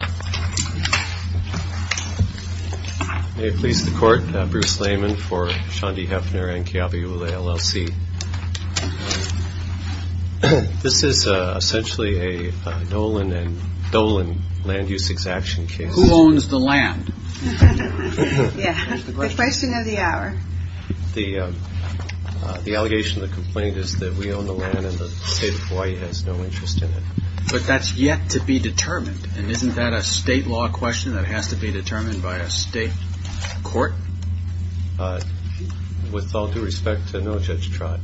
May it please the Court, Bruce Layman for Shondy Heffner and Keaweula LLC. This is essentially a Dolan and Dolan land use exaction case. Who owns the land? The question of the hour. The allegation of the complaint is that we own the land and the state of Hawaii has no state law question that has to be determined by a state court? With all due respect, no, Judge Trott.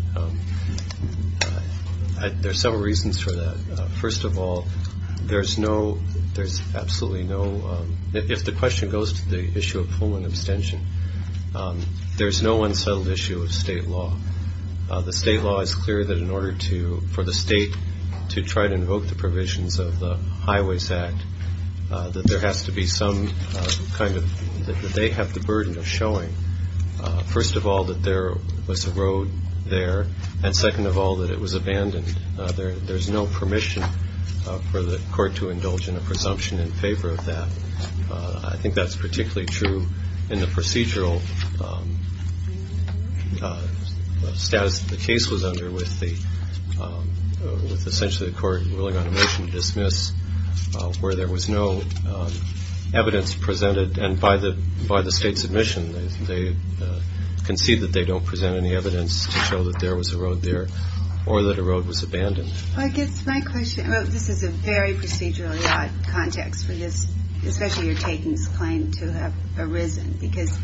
There's several reasons for that. First of all, there's no there's absolutely no if the question goes to the issue of full and abstention, there's no unsettled issue of state law. The state law is clear that in order to for the state to try to invoke the provisions of the that there has to be some kind of that they have the burden of showing. First of all, that there was a road there. And second of all, that it was abandoned. There's no permission for the court to indulge in a presumption in favor of that. I think that's particularly true in the procedural status the case was under with the with essentially the court ruling on a motion to dismiss where there was no evidence presented. And by the by the state's admission, they concede that they don't present any evidence to show that there was a road there or that a road was abandoned. I guess my question about this is a very procedurally odd context for this, especially you're taking this claim to have arisen because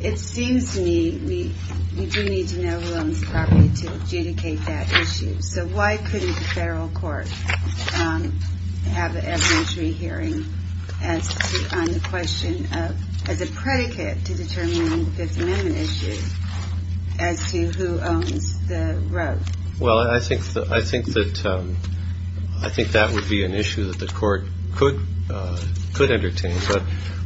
it seems to me we we do need to know who owns the property to adjudicate that issue. So why couldn't the federal court have an evidentiary hearing as to on the question of as a predicate to determining the Fifth Amendment issue as to who owns the road? Well, I think I think that I think that would be an issue that the court could could entertain. But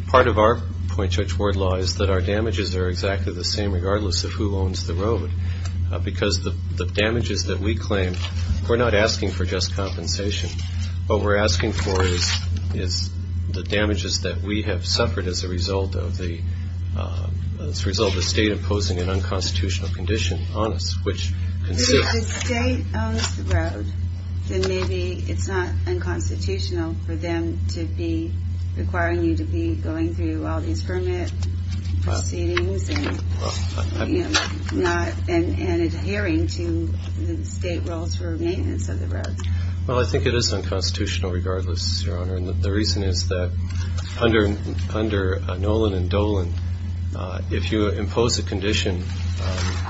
part of our point judge word law is that our damages are exactly the same regardless of who damages that we claim. We're not asking for just compensation. What we're asking for is is the damages that we have suffered as a result of the as a result of the state imposing an unconstitutional condition on us, which is a road. Then maybe it's not unconstitutional for them to be requiring you to be going through all these permit proceedings and not and adhering to the state rules for maintenance of the road. Well, I think it is unconstitutional regardless, Your Honor. And the reason is that under under Nolan and Dolan, if you impose a condition,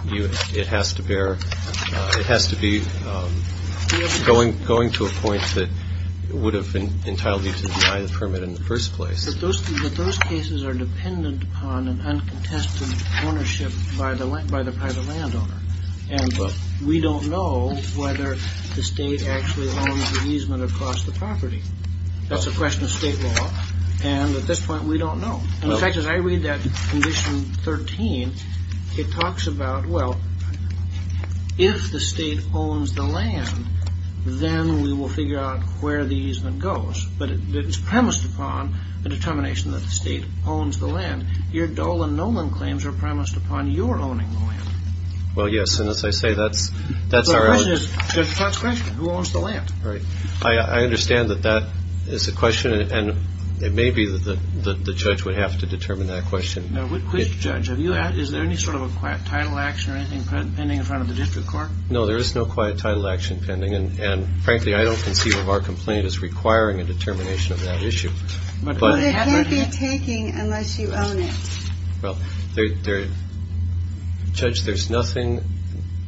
you it has to bear. It has to be going going to a point that would have been entitled you to deny the permit in the that those cases are dependent upon an uncontested ownership by the land by the private landowner. And we don't know whether the state actually owns the easement across the property. That's a question of state law. And at this point, we don't know. In fact, as I read that condition 13, it talks about, well, if the state owns the land, then we will figure out where the easement goes. But it is premised upon the determination that the state owns the land here. Dolan, Nolan claims are premised upon your own. Well, yes. And as I say, that's that's our question. Who owns the land? Right. I understand that that is a question. And it may be that the judge would have to determine that question. Now, which judge have you had? Is there any sort of a quiet title action or anything pending in front of the district court? No, there is no quiet title action pending. And frankly, I don't conceive of our complaint as requiring a determination of that issue. But it can't be taking unless you own it. Well, there judge, there's nothing.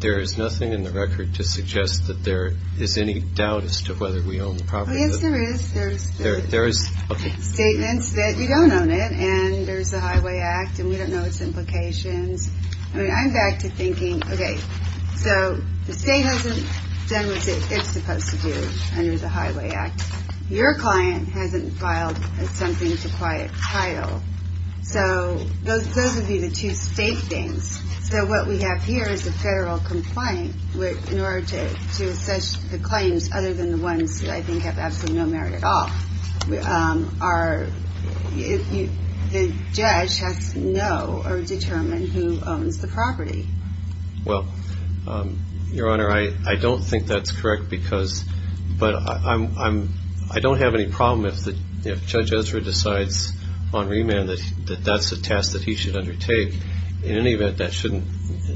There is nothing in the record to suggest that there is any doubt as to whether we own the property. Yes, there is. There's there there is statements that you don't own it. And there's the Highway Act. And we don't know its implications. I mean, I'm back to thinking. OK, so the state hasn't done what it's supposed to do under the Highway Act. Your client hasn't filed something to quiet title. So those those would be the two state things. So what we have here is a federal complaint in order to to assess the claims other than the ones that I think have absolutely no merit at all are if the judge has to know or determine who owns the property. Well, Your Honor, I don't think that's correct, because but I'm I don't have any problem if the if Judge Ezra decides on remand that that's a task that he should undertake. In any event, that shouldn't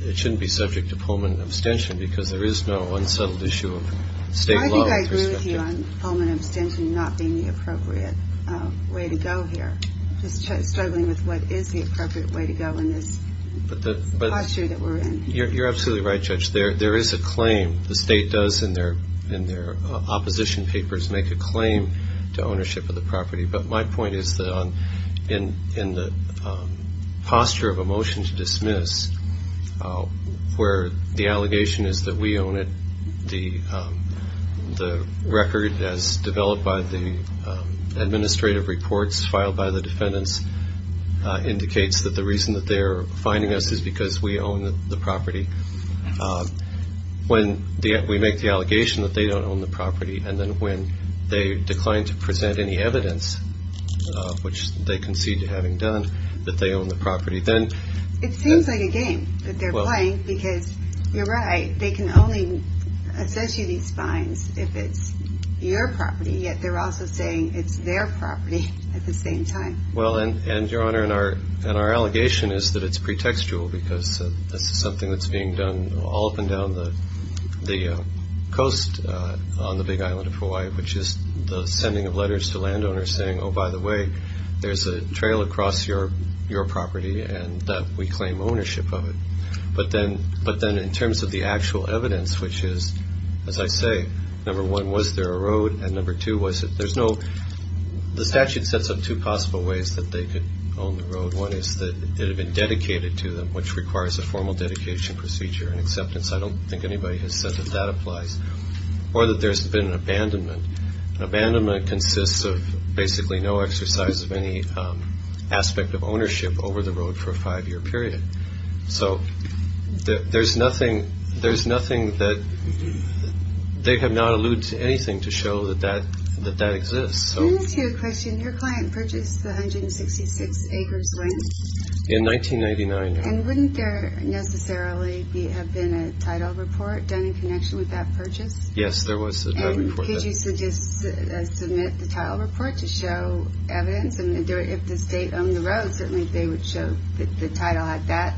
it shouldn't be subject to Pullman abstention because there is no unsettled issue of state law. I agree with you on Pullman abstention not being the appropriate way to go here, just struggling with what is the appropriate way to go in this posture that we're in. You're absolutely right, Judge. There there is a claim the state does in their in their opposition papers make a claim to ownership of the property. But my point is that in in the posture of a motion to dismiss where the allegation is that we own it, the the record as developed by the administrative reports filed by the defendants indicates that the reason that they're fining us is because we own the property. When we make the allegation that they don't own the property and then when they decline to present any evidence which they concede to having done that they own the property, then it seems like a game that they're playing because you're right, they can only assess you these fines if it's your property, yet they're also saying it's their property at the same time. Well and and your honor and our and our allegation is that it's pretextual because this is something that's being done all up and down the the coast on the big island of Hawaii, which is the sending of letters to landowners saying, oh by the way, there's a trail across your your property and that we claim ownership of it. But then but then in terms of the actual evidence, which is, as I say, number one was there a road and number two was that there's no the statute sets up two possible ways that they could own the road. One is that it had been dedicated to them, which requires a formal dedication procedure and acceptance. I don't think anybody has said that that applies or that there's been an abandonment. An abandonment consists of basically no exercise of any aspect of ownership over the road for a five-year period. So there's nothing there's nothing that they have not alluded to anything to show that that that that exists. So let me ask you a question. Your client purchased the 166 acres length in 1999 and wouldn't there necessarily have been a title report done in connection with that purchase? Yes, there was a report. Could you submit the title report to show evidence and if the state owned the road, certainly they would show that the title had that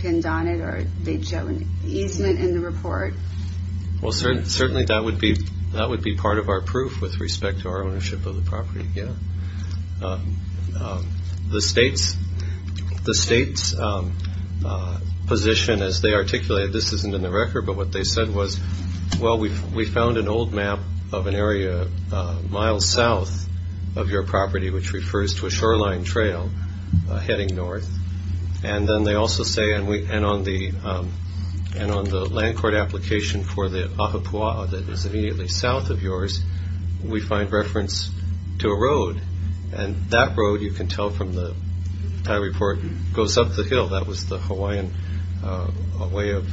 pinned on it or they'd show an easement in the report? Well, certainly that would be that would be part of our proof with respect to our ownership of the property, yeah. The state's position as they articulated, this isn't in the record, but what they said was well we've we found an old map of an area miles south of your property which refers to a shoreline trail heading north and then they also say and we and on the and on the land court application for the ahupua'a that is immediately south of yours we find reference to a road and that road you can tell from the title report goes up the hill. That was the Hawaiian way of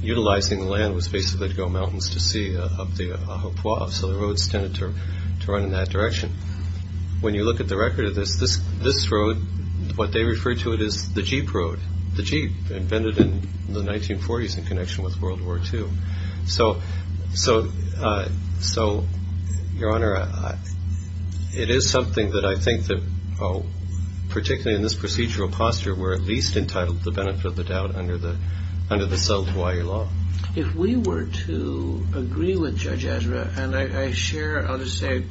utilizing land was basically to go mountains to sea up the ahupua'a so the roads tended to run in that direction. When you look at the record of this this this road what they refer to it as the jeep road. The jeep invented in the 1940s in connection with World War II. So your honor, it is something that I think that particularly in this procedural posture we're at least entitled to the benefit of under the South Hawaii law. If we were to agree with Judge Ezra and I share I'll just say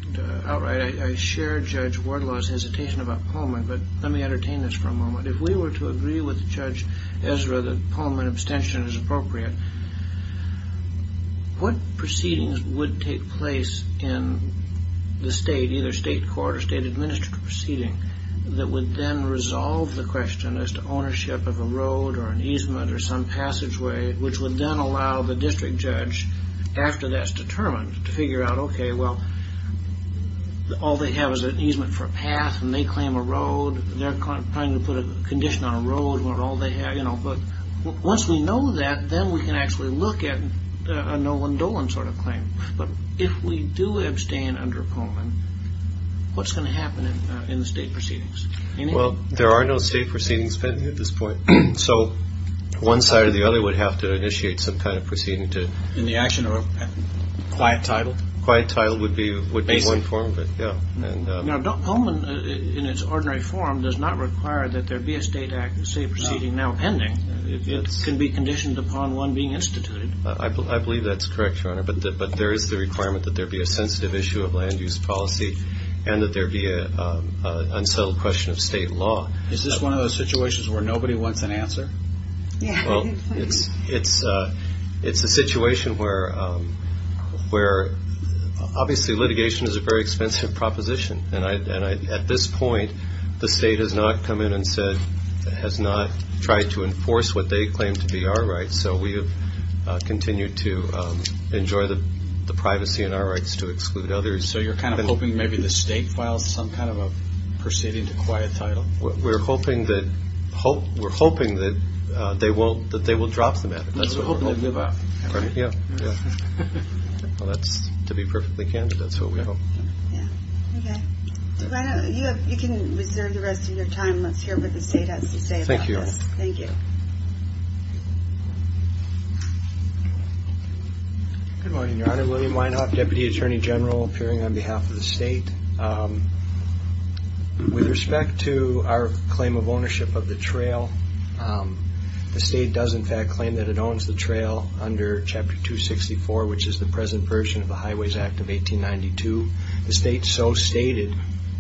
outright I share Judge Wardlaw's hesitation about Pullman but let me entertain this for a moment. If we were to agree with Judge Ezra that Pullman abstention is appropriate, what proceedings would take place in the state either state court or state administrative proceeding that would then resolve the question as to ownership of a road or an easement or some passageway which would then allow the district judge after that's determined to figure out okay well all they have is an easement for a path and they claim a road they're trying to put a condition on a road what all they have you know but once we know that then we can actually look at a Nolan under Pullman what's going to happen in the state proceedings well there are no state proceedings pending at this point so one side or the other would have to initiate some kind of proceeding to in the action of a quiet title quiet title would be would be one form of it yeah and now Pullman in its ordinary form does not require that there be a state act and state proceeding now pending it can be conditioned upon one being instituted I believe that's correct your honor but there is the requirement that there be a sensitive issue of land use policy and that there be a unsettled question of state law is this one of those situations where nobody wants an answer yeah well it's it's uh it's a situation where um where obviously litigation is a very expensive proposition and I and I at this point the state has not come in and said has not tried to enforce what they claim to be our rights so we have continued to enjoy the privacy and our rights to exclude others so you're kind of hoping maybe the state files some kind of a proceeding to quiet title we're hoping that hope we're hoping that they won't that they will drop them at it that's what we're hoping about right yeah yeah well that's to be perfectly candid that's what we hope yeah okay you have you can reserve the rest of your time let's hear what the state has to say thank you thank you good morning your honor William Weinhoff deputy attorney general appearing on behalf of the state with respect to our claim of ownership of the trail the state does in fact claim that it owns the trail under chapter 264 which is the present version of the highways act of 1892 the state so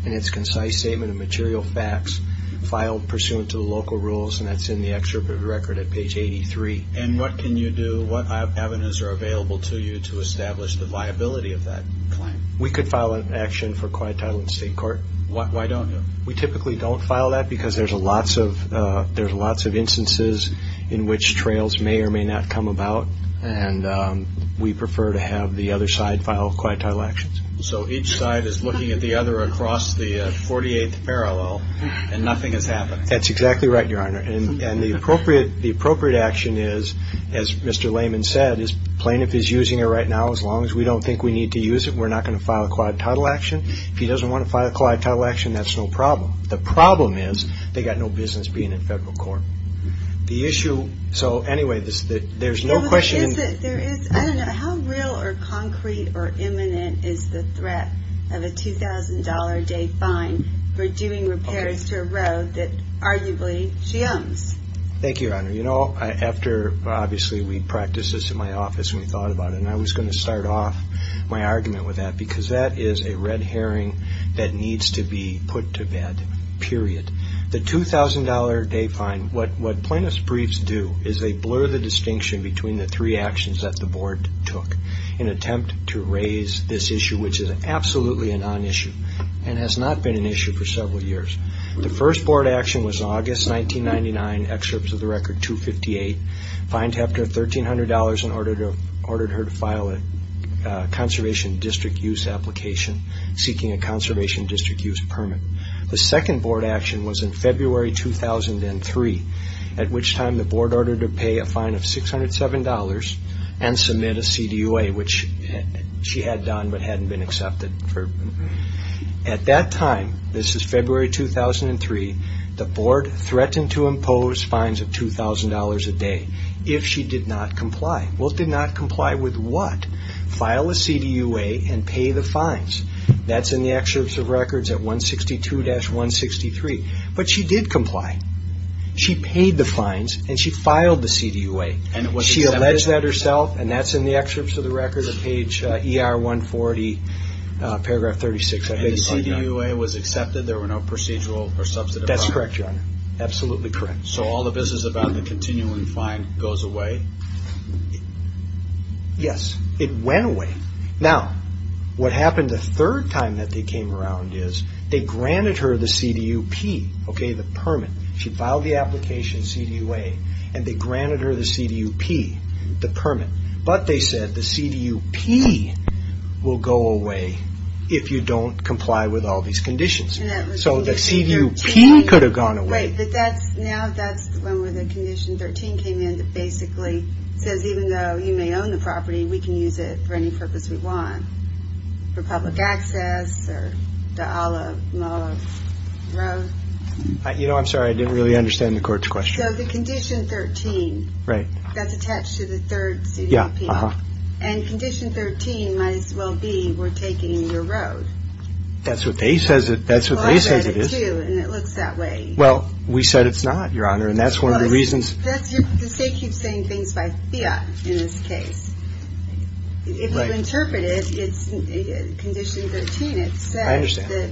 in its concise statement of material facts filed pursuant to the local rules and that's in the excerpt of the record at page 83 and what can you do what avenues are available to you to establish the viability of that claim we could file an action for quiet title in state court what why don't we typically don't file that because there's a lots of uh there's lots of instances in which trails may or may not come about and um we prefer to have the other side file quiet title actions so each side is looking at the other across the 48th parallel and nothing has happened that's exactly right your honor and and the appropriate the appropriate action is as mr layman said is plaintiff is using it right now as long as we don't think we need to use it we're not going to file a quiet title action if he doesn't want to file a quiet title action that's no problem the problem is they got no business being in federal court the issue so anyway this there's no question how real or concrete or imminent is the threat of a two thousand dollar day fine for doing repairs to a road that arguably she owns thank you your honor you know after obviously we practiced this in my office and we thought about it and i was going to start off my argument with that because that is a red herring that needs to be put to bed period the two thousand dollar day fine what what plaintiff's briefs do is they blur the distinction between the three actions that the board took in attempt to raise this issue which is absolutely a non-issue and has not been an issue for several years the first board action was august 1999 excerpts of the record 258 fined hefter $1,300 in order to ordered her to file a conservation district use application seeking a conservation district use permit the second board action was in february 2003 at which time the board ordered to pay a fine of 607 dollars and submit a cdua which she had done but hadn't been accepted for at that time this is february 2003 the board threatened to impose fines of two thousand dollars a day if she did not comply well did not comply with what file a cdua and pay the fines that's in the excerpts of records at 162-163 but she did comply she paid the fines and she filed the cdua and she alleged that herself and that's in the excerpts of the records of page er 140 paragraph 36 the cdua was accepted there were no procedural or substantive that's correct your honor absolutely correct so all the business about the continuing fine goes away yes it went away now what happened the third time that they came around is they granted her the cdup okay the permit she filed the application cdua and they granted her the cdup the permit but they said the cdup will go away if you don't comply with all these conditions so the cdup could have gone away but that's now that's when the condition 13 came in that basically says even though you may own the property we can use it for any purpose we want for public access or the ala road you know i'm sorry i didn't really understand the court's question so the condition 13 right that's attached to the third cdup and condition 13 might as well we're taking your road that's what they says it that's what they say it is and it looks that way well we said it's not your honor and that's one of the reasons that's the state keeps saying things by fiat in this case if you interpret it it's condition 13 it says that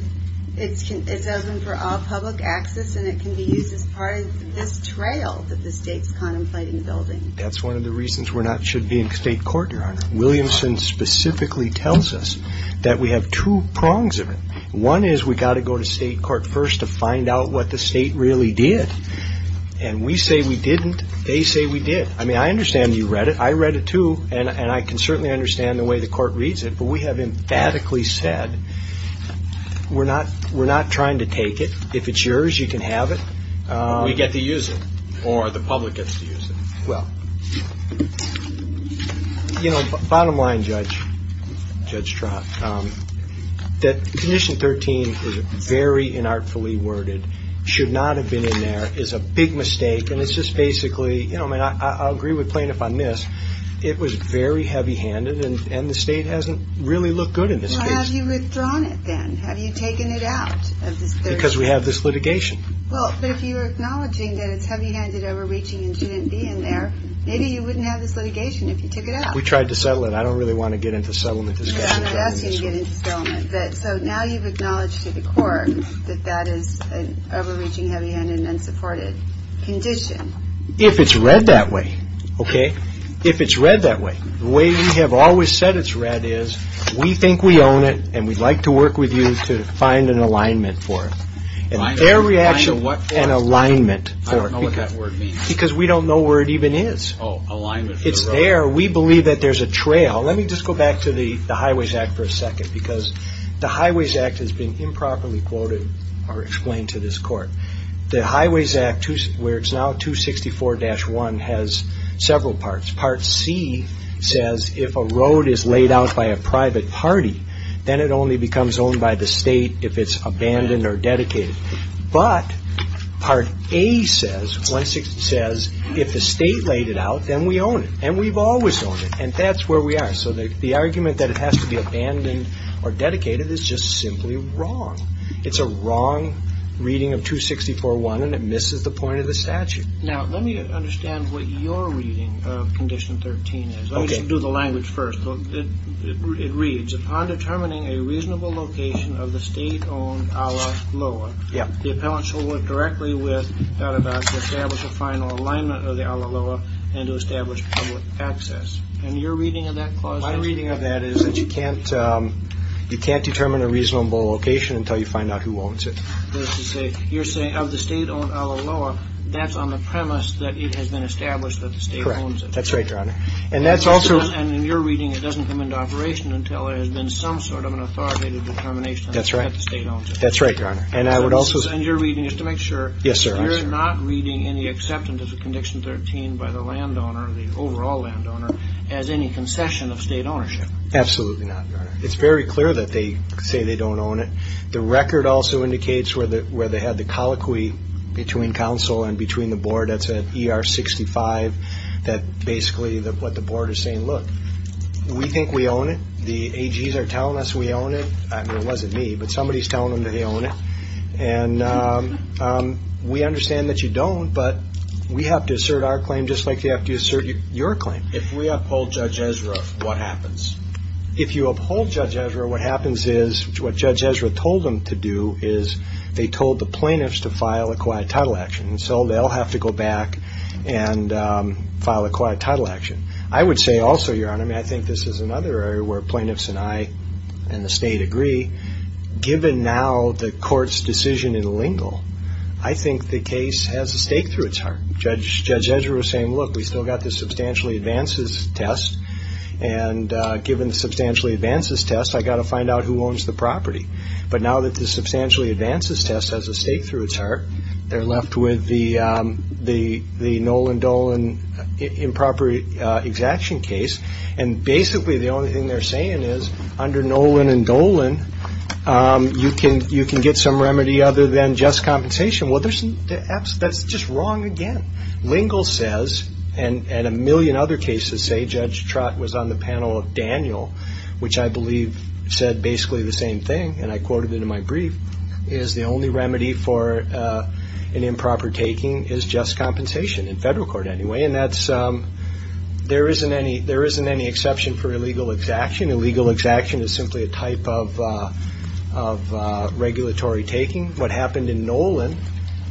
it's can it's open for all public access and it can be used as part of this trail that the state's contemplating building that's one of the reasons we're not should be in state court your honor williamson specifically tells us that we have two prongs of it one is we got to go to state court first to find out what the state really did and we say we didn't they say we did i mean i understand you read it i read it too and and i can certainly understand the way the court reads it but we have emphatically said we're not we're not trying to take it if it's yours you can have it we get or the public gets to use it well you know bottom line judge judge trot um that condition 13 is very inartfully worded should not have been in there is a big mistake and it's just basically you know i mean i i agree with plaintiff on this it was very heavy-handed and and the state hasn't really looked good in this case have you withdrawn it then have you taken it out because we have this litigation well but if you're acknowledging that it's heavy-handed overreaching and shouldn't be in there maybe you wouldn't have this litigation if you took it out we tried to settle it i don't really want to get into settlement so now you've acknowledged to the court that that is an overreaching heavy-handed unsupported condition if it's read that way okay if it's read that way the way we have always said it's read is we think we own it and we'd like to work with you to find an alignment for it and their reaction what an alignment for it because we don't know where it even is oh alignment it's there we believe that there's a trail let me just go back to the highways act for a second because the highways act has been improperly quoted or explained to this court the highways act where it's now 264-1 has several parts part c says if a road is laid out by a abandoned or dedicated but part a says 160 says if the state laid it out then we own it and we've always owned it and that's where we are so the argument that it has to be abandoned or dedicated is just simply wrong it's a wrong reading of 264-1 and it misses the point of the statute now let me understand what your reading of condition 13 is okay do the language first it reads upon determining a reasonable location of the state-owned ala loa yeah the appellant shall work directly with that about to establish a final alignment of the ala loa and to establish public access and your reading of that clause my reading of that is that you can't you can't determine a reasonable location until you find out who owns it you're saying of the state-owned ala loa that's on the premise that it has been established that the state owns it that's right doesn't come into operation until there has been some sort of an authoritative determination that's right the state owns it that's right your honor and i would also and your reading is to make sure yes sir you're not reading any acceptance of the condition 13 by the landowner the overall landowner as any concession of state ownership absolutely not your honor it's very clear that they say they don't own it the record also indicates where the where they had the colloquy between council and between the board that's at er 65 that basically that what the board is saying look we think we own it the ags are telling us we own it i mean it wasn't me but somebody's telling them that they own it and um we understand that you don't but we have to assert our claim just like they have to assert your claim if we uphold judge esra what happens if you uphold judge esra what happens is what judge esra told them to do is they told the plaintiffs to file a quiet title and so they'll have to go back and file a quiet title action i would say also your honor i mean i think this is another area where plaintiffs and i and the state agree given now the court's decision in lingle i think the case has a stake through its heart judge judge esra was saying look we still got the substantially advances test and uh given the substantially advances test i got to find out who owns the property but now that the substantially advances test has a stake through its heart they're left with the um the the nolan dolan improper uh exaction case and basically the only thing they're saying is under nolan and dolan um you can you can get some remedy other than just compensation well there's some that's just wrong again lingle says and and a million other cases say judge trott was on the panel of daniel which i believe said basically the same thing and i for uh an improper taking is just compensation in federal court anyway and that's um there isn't any there isn't any exception for illegal exaction illegal exaction is simply a type of uh of uh regulatory taking what happened in nolan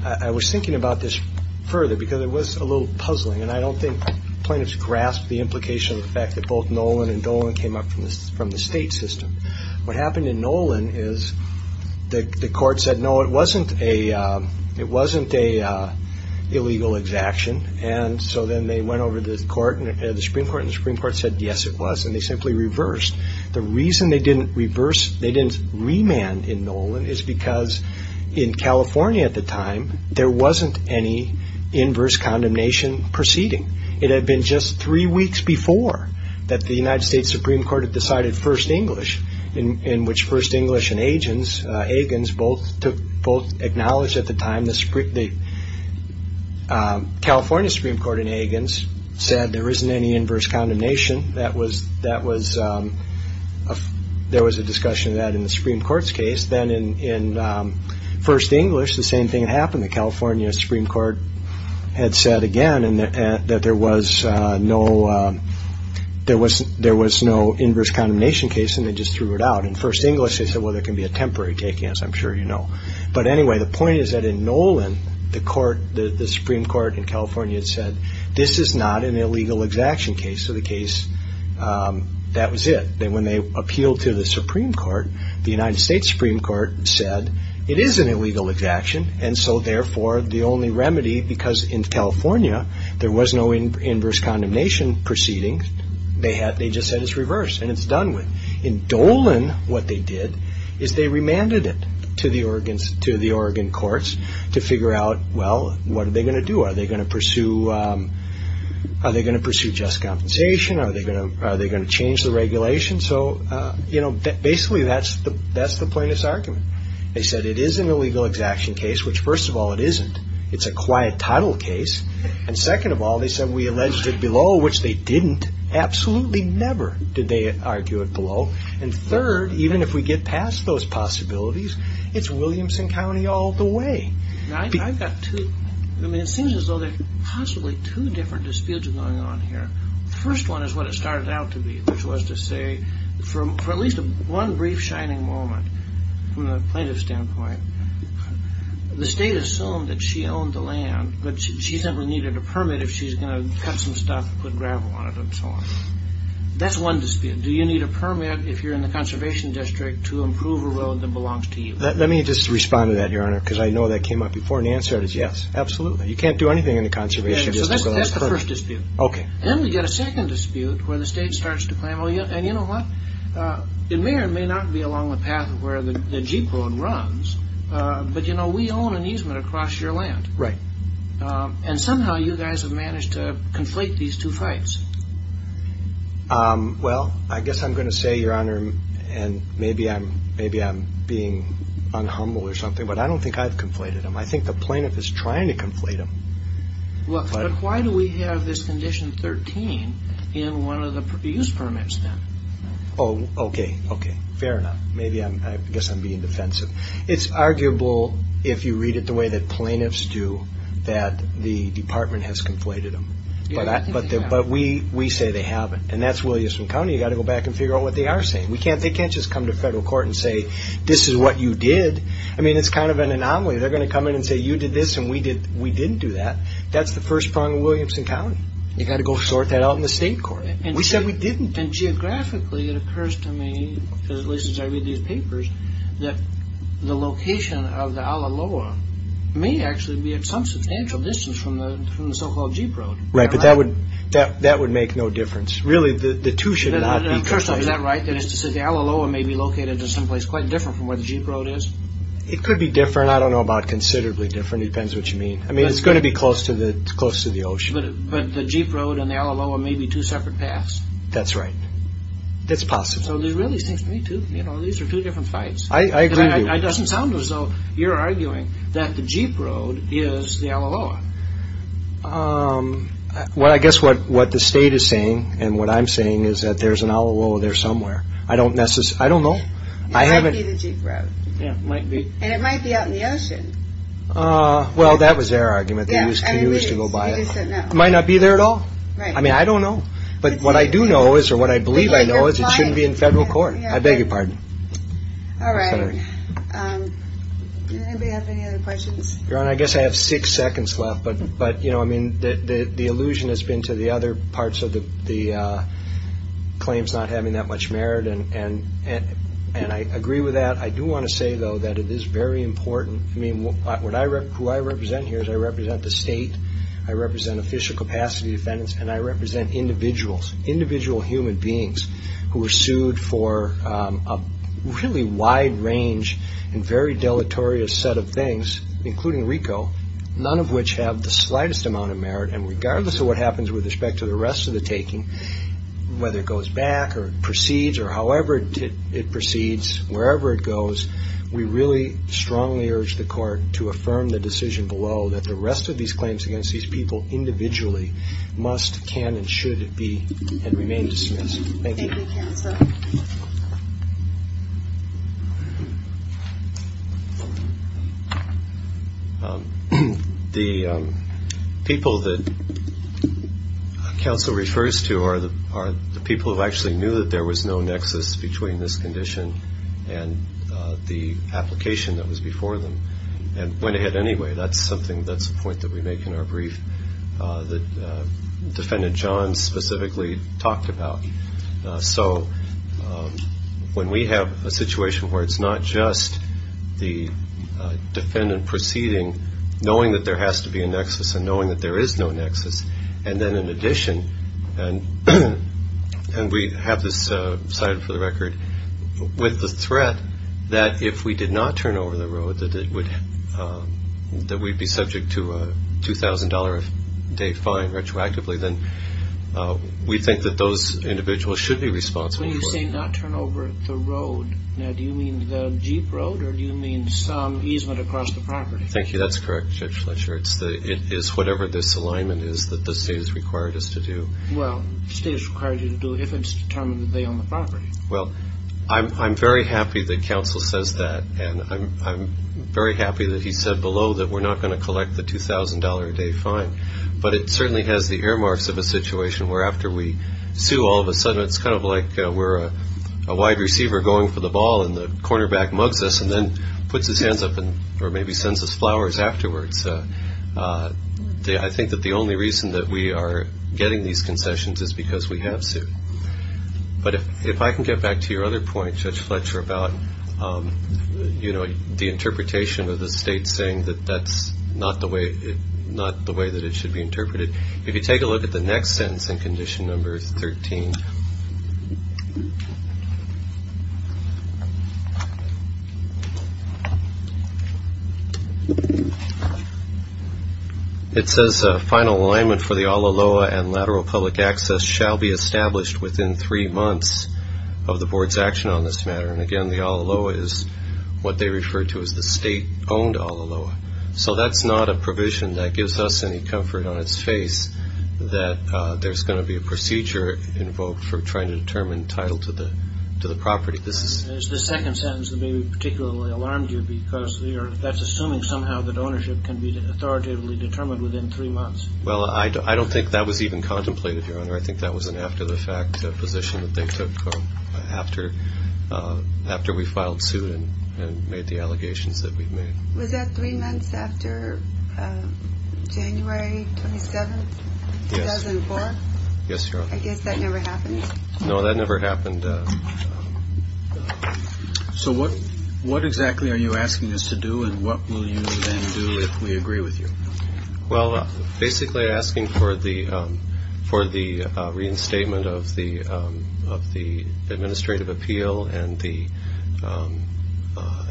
i was thinking about this further because it was a little puzzling and i don't think plaintiffs grasped the implication of the fact that both nolan and dolan came up from this from the state system what happened in nolan is the the court said no it wasn't a uh it wasn't a uh illegal exaction and so then they went over the court and the supreme court and the supreme court said yes it was and they simply reversed the reason they didn't reverse they didn't remand in nolan is because in california at the time there wasn't any inverse condemnation proceeding it had been just three weeks before that the united states supreme court had decided first english in in which first english and agents hagins both took both acknowledged at the time the sprit the california supreme court in hagins said there isn't any inverse condemnation that was that was um there was a discussion of that in the supreme court's case then in in um first english the same thing happened the california supreme court had said again and that there was uh no uh there was there was no inverse condemnation case and they just threw it out in first english they said well there can be a temporary taking as i'm sure you know but anyway the point is that in nolan the court the supreme court in california said this is not an illegal exaction case so the case um that was it then when they appealed to the supreme court the united states supreme court said it is an illegal exaction and so therefore the only remedy because in california there was no inverse condemnation proceedings they had they just said it's reversed and it's done with in dolan what they did is they remanded it to the organs to the oregon courts to figure out well what are they going to do are they going to pursue um are they going to pursue just compensation are they going to are they going to change the regulation so uh you know basically that's the that's the plaintiff's argument they said it is an illegal exaction case which first of all it isn't it's a quiet title case and second of all they said we alleged it below which they didn't absolutely never did they argue it below and third even if we get past those possibilities it's williamson county all the way i've got two i mean it seems as though there's possibly two different disputes going on here first one is what it started out to be which was to say for at least one brief shining moment from the plaintiff standpoint the state assumed that she owned the land but she simply needed a permit if she's going to cut some stuff put gravel on it and so on that's one dispute do you need a permit if you're in the conservation district to improve a road that belongs to you let me just respond to that your honor because i know that came up before and the answer is yes absolutely you can't do anything in the conservation that's the first dispute okay then we get a second dispute where the state starts to claim oh yeah and you know what uh it may or may not be along the path of where the jeep road runs uh but you know we own an easement across your land right and somehow you guys have managed to conflate these two fights um well i guess i'm going to say your honor and maybe i'm maybe i'm being unhumble or something but i don't think i've conflated him i think the plaintiff is trying to conflate him well but why do we have this condition 13 in one of the produce permits then oh okay okay fair enough maybe i'm i guess i'm being defensive it's arguable if you read it the way that plaintiffs do that the department has conflated them but i but but we we say they haven't and that's williamson county you got to go back and figure out what they are saying we can't they can't just come to federal court and say this is what you did i mean it's kind of an anomaly they're going to come in and say you did this and we did we didn't do that that's the first prong of williamson county you got to go sort that out in the state court and we said we didn't and geographically it occurs to me because at least as i read these papers that the location of the alaloa may actually be at some substantial distance from the from the so-called jeep road right but that would that that would make no difference really the the two should not be first up is that right that is to say the alaloa may be located in some place quite different from where the jeep road is it could be different i don't know about considerably different depends what you mean i mean it's going to be close to the close to the ocean but the jeep road and the alaloa may be two separate paths that's right it's possible so there really seems to me to you know these are two different fights i i agree it doesn't sound as though you're arguing that the jeep road is the alaloa um well i guess what what the state is saying and what i'm saying is that there's an alo there somewhere i don't necessarily i don't i haven't the jeep road yeah it might be and it might be out in the ocean uh well that was their argument they used to use to go by it might not be there at all right i mean i don't know but what i do know is or what i believe i know is it shouldn't be in federal court i beg your pardon all right um anybody have any other questions your honor i guess i have six seconds left but but you know i mean the the illusion has been to the other parts of the the uh claims not having that much merit and and and i agree with that i do want to say though that it is very important i mean what would i rep who i represent here is i represent the state i represent official capacity defendants and i represent individuals individual human beings who are sued for um a really wide range and very deleterious set of things including rico none of which have the slightest amount of merit and regardless of what happens with respect to the rest of the taking whether it goes back or proceeds or however it proceeds wherever it goes we really strongly urge the court to affirm the decision below that the rest of these claims against these people individually must can and should be and remain dismissed thank you um the um people that council refers to are the are the people who actually knew that there was no nexus between this condition and uh the application that was before them and went ahead anyway that's something that's the point that we make in our brief uh that defendant john specifically talked about so when we have a situation where it's not just the defendant proceeding knowing that there has to be a nexus and knowing that there is no nexus and then in addition and and we have this uh cited for the record with the threat that if we did not turn over the road that it would uh that we'd be subject to a two thousand dollar a day fine retroactively then we think that those individuals should be responsible when you say not turn over the road now do you mean the jeep road or do you mean some easement across the property thank you that's correct judge fletcher it's the it is whatever this alignment is that the state has required us to do well state has required you to do if it's determined that they own the property well i'm i'm very happy that council says that and i'm i'm very happy that he said below that we're not going to collect the two thousand dollar a day fine but it certainly has the earmarks of a situation where after we sue all of a sudden it's kind of like we're a wide receiver going for the ball and the cornerback mugs us and then puts his hands up and or maybe sends us flowers afterwards i think that the only reason that we are getting these concessions is because we have sued but if i can get back to your other point judge fletcher about um you know the interpretation of the state saying that that's not the way it not the way that it should be interpreted if you take a look at the next sentence in condition number 13 it says a final alignment for the aloha and lateral public access shall be established within three months of the board's action on this matter and again the aloha is what they refer to as the state owned aloha so that's not a provision that gives us any comfort on its face that uh there's going to be a procedure invoked for trying to determine title to the to the property this is the second sentence that maybe particularly alarmed you because we are that's assuming somehow that ownership can be authoritatively determined within three months well i i don't think that was even contemplated your honor i think that was an after-the-fact position that they took after uh after we filed suit and made the allegations that we've made was that three months after uh january 27th 2004 yes your honor i guess that never happened no that never happened uh so what what exactly are you asking us to do and what will you then we agree with you well basically asking for the um for the uh reinstatement of the um of the administrative appeal and the um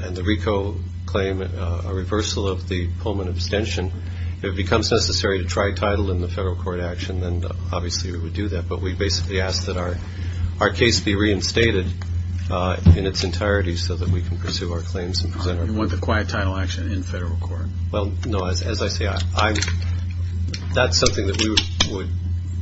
and the rico claim a reversal of the pullman abstention if it becomes necessary to try title in the federal court action then obviously we would do that but we basically ask that our our case be reinstated uh in its entirety so that we can well no as i say i'm that's something that we would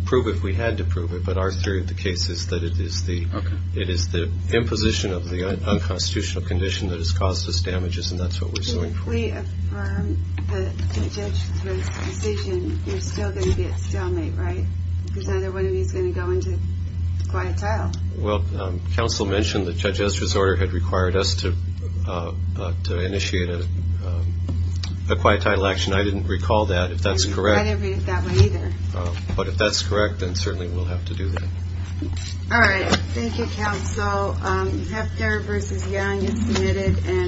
prove if we had to prove it but our theory of the case is that it is the okay it is the imposition of the unconstitutional condition that has caused us damages and that's what we're suing for if we affirm the judge's decision you're still going to get stalemate right because neither one of you is going to go into quiet tile well um the judge's disorder had required us to uh to initiate a quiet title action i didn't recall that if that's correct i didn't read it that way either but if that's correct then certainly we'll have to do that all right thank you counsel um hector versus young is committed and